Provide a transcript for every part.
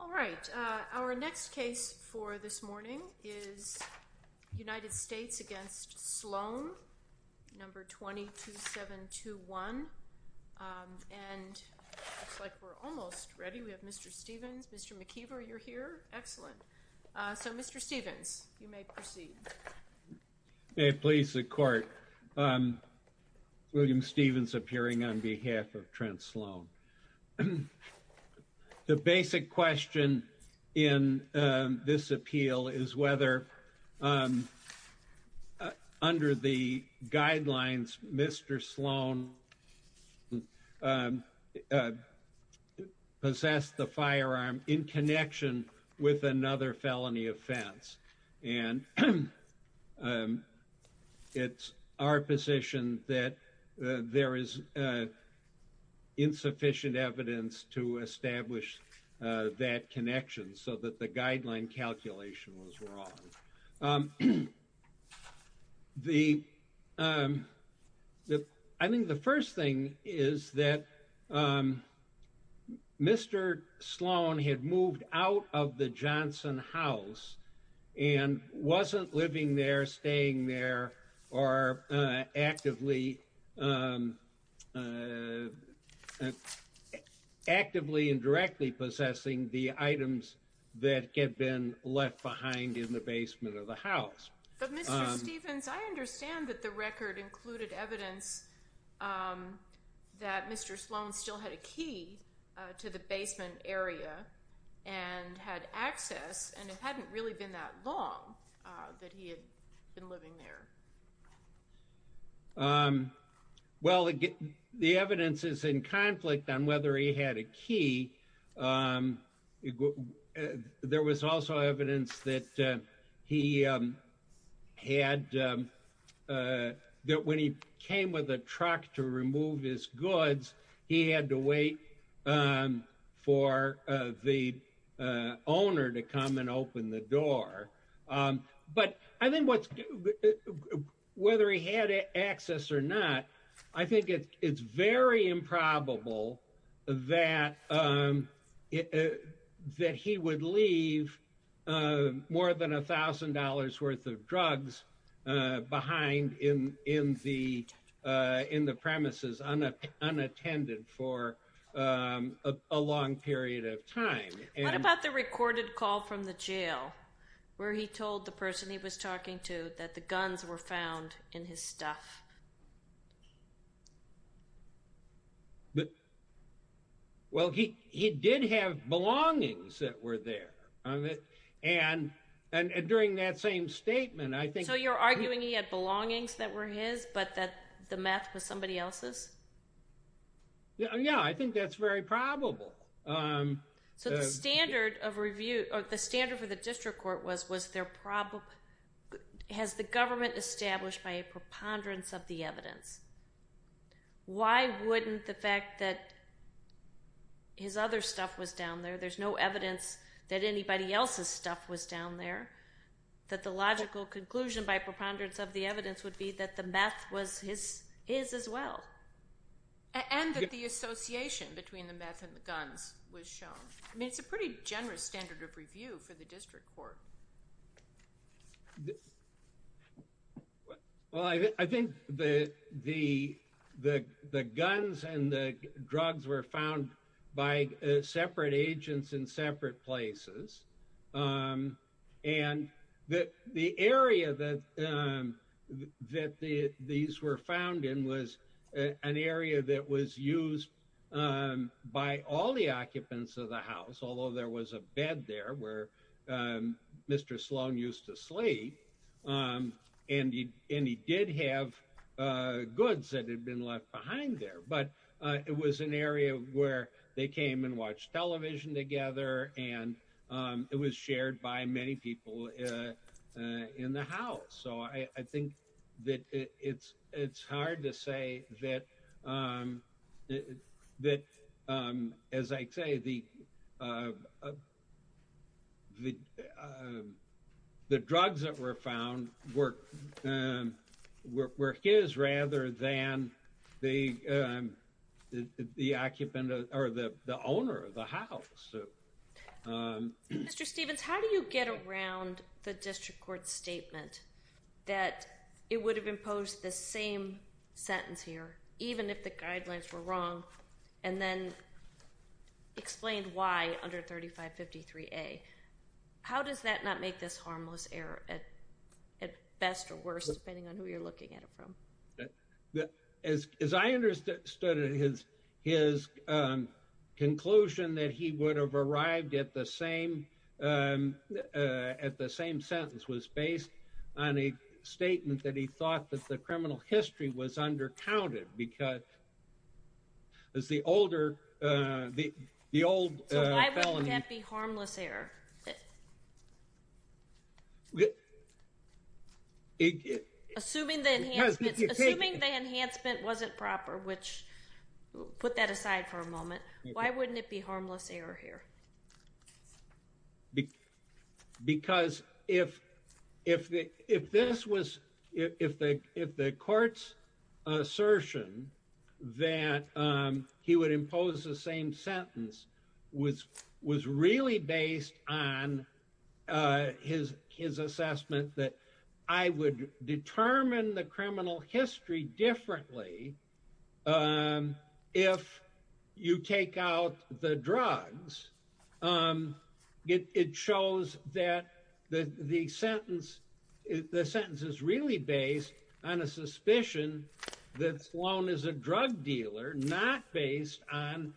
All right. Our next case for this morning is United States v. Sloan, No. 22721. And it looks like we're almost ready. We have Mr. Stevens. Mr. McKeever, you're here. Excellent. So, Mr. Stevens, you may proceed. May it please the Court, William Stevens appearing on behalf of Trent Sloan. The basic question in this appeal is whether, under the guidelines, Mr. Sloan possessed the firearm in connection with another felony offense. And it's our position that there is insufficient evidence to establish that connection so that the guideline calculation was wrong. I think the first thing is that Mr. Sloan had moved out of the Johnson house and wasn't living there, staying there, or actively and directly possessing the items that had been left behind in the basement of the house. But, Mr. Stevens, I understand that the record included evidence that Mr. Sloan still had a key to the basement area and had access, and it hadn't really been that long that he had been living there. Well, the evidence is in conflict on whether he had a key. There was also evidence that when he came with a truck to remove his goods, he had to wait for the owner to come and open the door. But I think whether he had access or not, I think it's very improbable that he would leave more than $1,000 worth of drugs behind in the premises unattended for a long period of time. What about the recorded call from the jail where he told the person he was talking to that the guns were found in his stuff? Well, he did have belongings that were there. And during that same statement, I think... So you're arguing he had belongings that were his, but that the meth was somebody else's? Yeah, I think that's very probable. So the standard for the district court was, has the government established by a preponderance of the evidence? Why wouldn't the fact that his other stuff was down there, there's no evidence that anybody else's stuff was down there, that the logical conclusion by preponderance of the evidence would be that the meth was his as well? And that the association between the meth and the guns was shown. I mean, it's a pretty generous standard of review for the district court. Well, I think the guns and the drugs were found by separate agents in separate places. And the area that these were found in was an area that was used by all the occupants of the house, although there was a bed there where Mr. Sloan used to sleep. And he did have goods that had been left behind there. But it was an area where they came and watched television together, and it was shared by many people in the house. So I think that it's hard to say that, as I say, the drugs that were found were his rather than the occupant or the owner of the house. Mr. Stephens, how do you get around the district court's statement that it would have imposed the same sentence here, even if the guidelines were wrong, and then explained why under 3553A? How does that not make this harmless error at best or worst, depending on who you're looking at it from? As I understood it, his conclusion that he would have arrived at the same sentence was based on a statement that he thought that the criminal history was undercounted. So why wouldn't that be harmless error? Assuming the enhancement wasn't proper, which, put that aside for a moment, why wouldn't it be harmless error here? Because if the court's assertion that he would impose the same sentence was really based on his assessment that I would determine the criminal history differently if you take out the drugs, it shows that the sentence is really based on a suspicion that Sloan is a drug dealer, not based on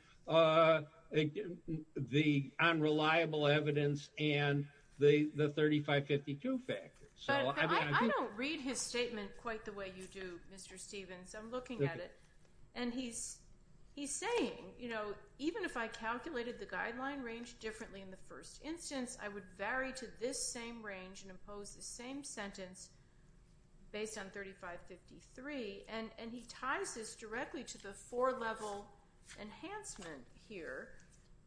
reliable evidence and the 3552 factor. But I don't read his statement quite the way you do, Mr. Stephens. And he's saying, even if I calculated the guideline range differently in the first instance, I would vary to this same range and impose the same sentence based on 3553, and he ties this directly to the four-level enhancement here.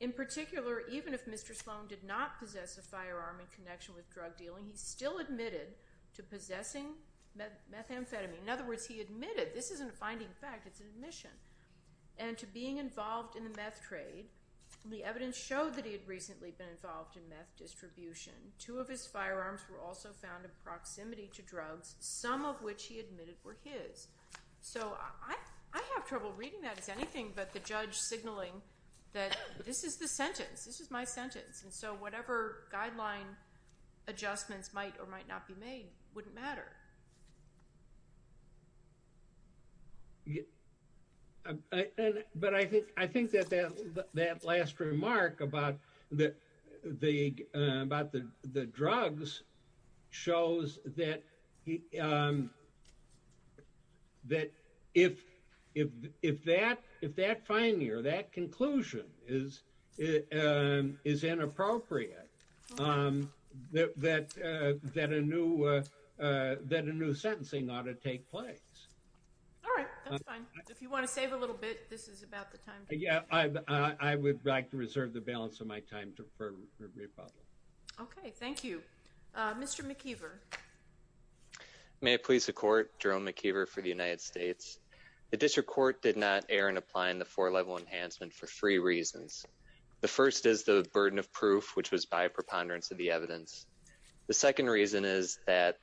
In particular, even if Mr. Sloan did not possess a firearm in connection with drug dealing, he still admitted to possessing methamphetamine. In other words, he admitted. This isn't a finding of fact. It's an admission. And to being involved in the meth trade, the evidence showed that he had recently been involved in meth distribution. Two of his firearms were also found in proximity to drugs, some of which he admitted were his. So I have trouble reading that as anything but the judge signaling that this is the sentence. And so whatever guideline adjustments might or might not be made wouldn't matter. But I think that that last remark about the drugs shows that if that finding or that conclusion is inappropriate, that a new sentencing ought to take place. All right, that's fine. If you want to save a little bit, this is about the time. Yeah, I would like to reserve the balance of my time for rebuttal. Okay, thank you. Mr. McKeever. May it please the Court, Jerome McKeever for the United States. The district court did not err in applying the four-level enhancement for three reasons. The first is the burden of proof, which was by preponderance of the evidence. The second reason is that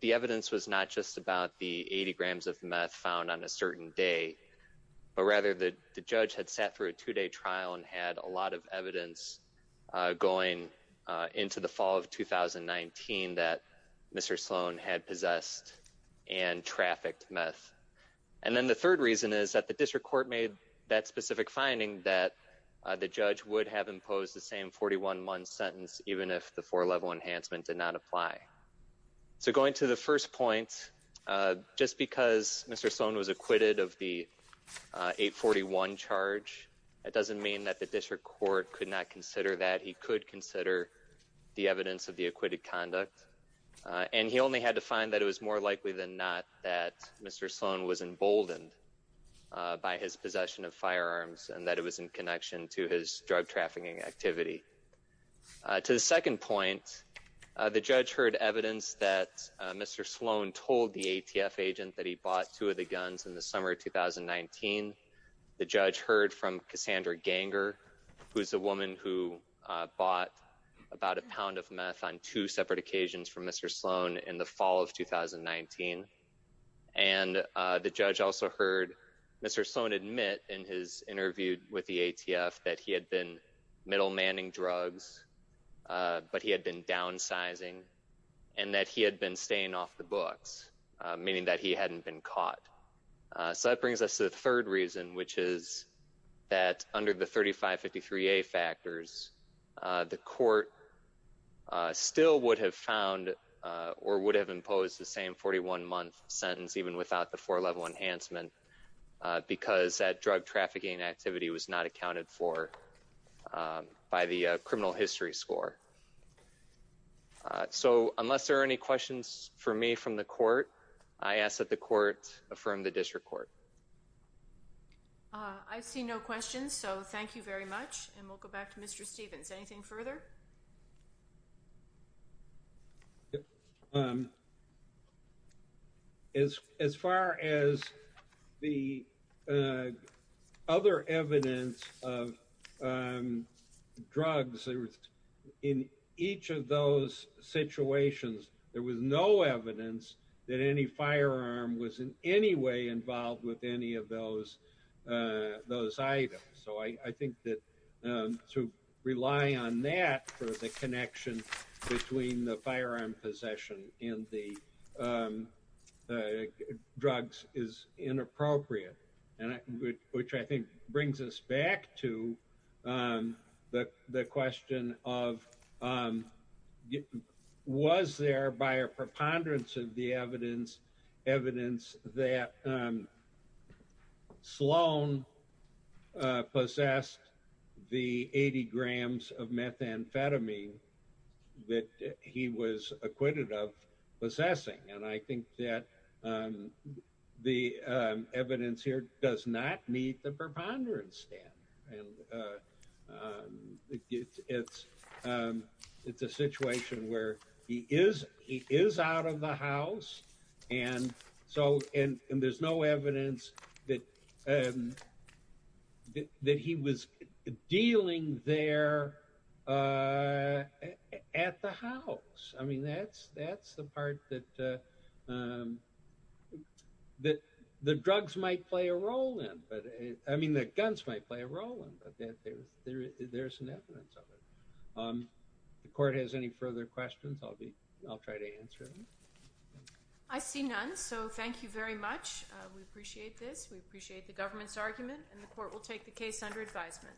the evidence was not just about the 80 grams of meth found on a certain day, but rather that the judge had sat through a two-day trial and had a lot of evidence going into the fall of 2019 that Mr. Sloan had possessed and trafficked meth. And then the third reason is that the district court made that specific finding that the judge would have imposed the same 41-month sentence even if the four-level enhancement did not apply. So going to the first point, just because Mr. Sloan was acquitted of the 841 charge, that doesn't mean that the district court could not consider that. He could consider the evidence of the acquitted conduct. And he only had to find that it was more likely than not that Mr. Sloan was emboldened by his possession of firearms and that it was in connection to his drug trafficking activity. To the second point, the judge heard evidence that Mr. Sloan told the ATF agent that he bought two of the guns in the summer of 2019. The judge heard from Cassandra Ganger, who is a woman who bought about a pound of meth on two separate occasions from Mr. Sloan in the fall of 2019. And the judge also heard Mr. Sloan admit in his interview with the ATF that he had been middlemanning drugs, but he had been downsizing and that he had been staying off the books, meaning that he hadn't been caught. So that brings us to the third reason, which is that under the 3553A factors, the court still would have found or would have imposed the same 41-month sentence even without the four-level enhancement because that drug trafficking activity was not accounted for by the criminal history score. So unless there are any questions for me from the court, I ask that the court affirm the district court. I see no questions, so thank you very much. And we'll go back to Mr. Stevens. Anything further? As far as the other evidence of drugs in each of those situations, there was no evidence that any firearm was in any way involved with any of those items. So I think that to rely on that for the connection between the firearm possession and the drugs is inappropriate, which I think brings us back to the question of was there by a preponderance of the evidence that Sloan possessed the 80 grams of methamphetamine that he was acquitted of possessing. And I think that the evidence here does not meet the preponderance standard. And it's a situation where he is out of the house, and there's no evidence that he was dealing there at the house. I mean, that's the part that the drugs might play a role in. I mean, the guns might play a role in, but there's no evidence of it. If the court has any further questions, I'll try to answer them. I see none, so thank you very much. We appreciate this. We appreciate the government's argument, and the court will take the case under advisement.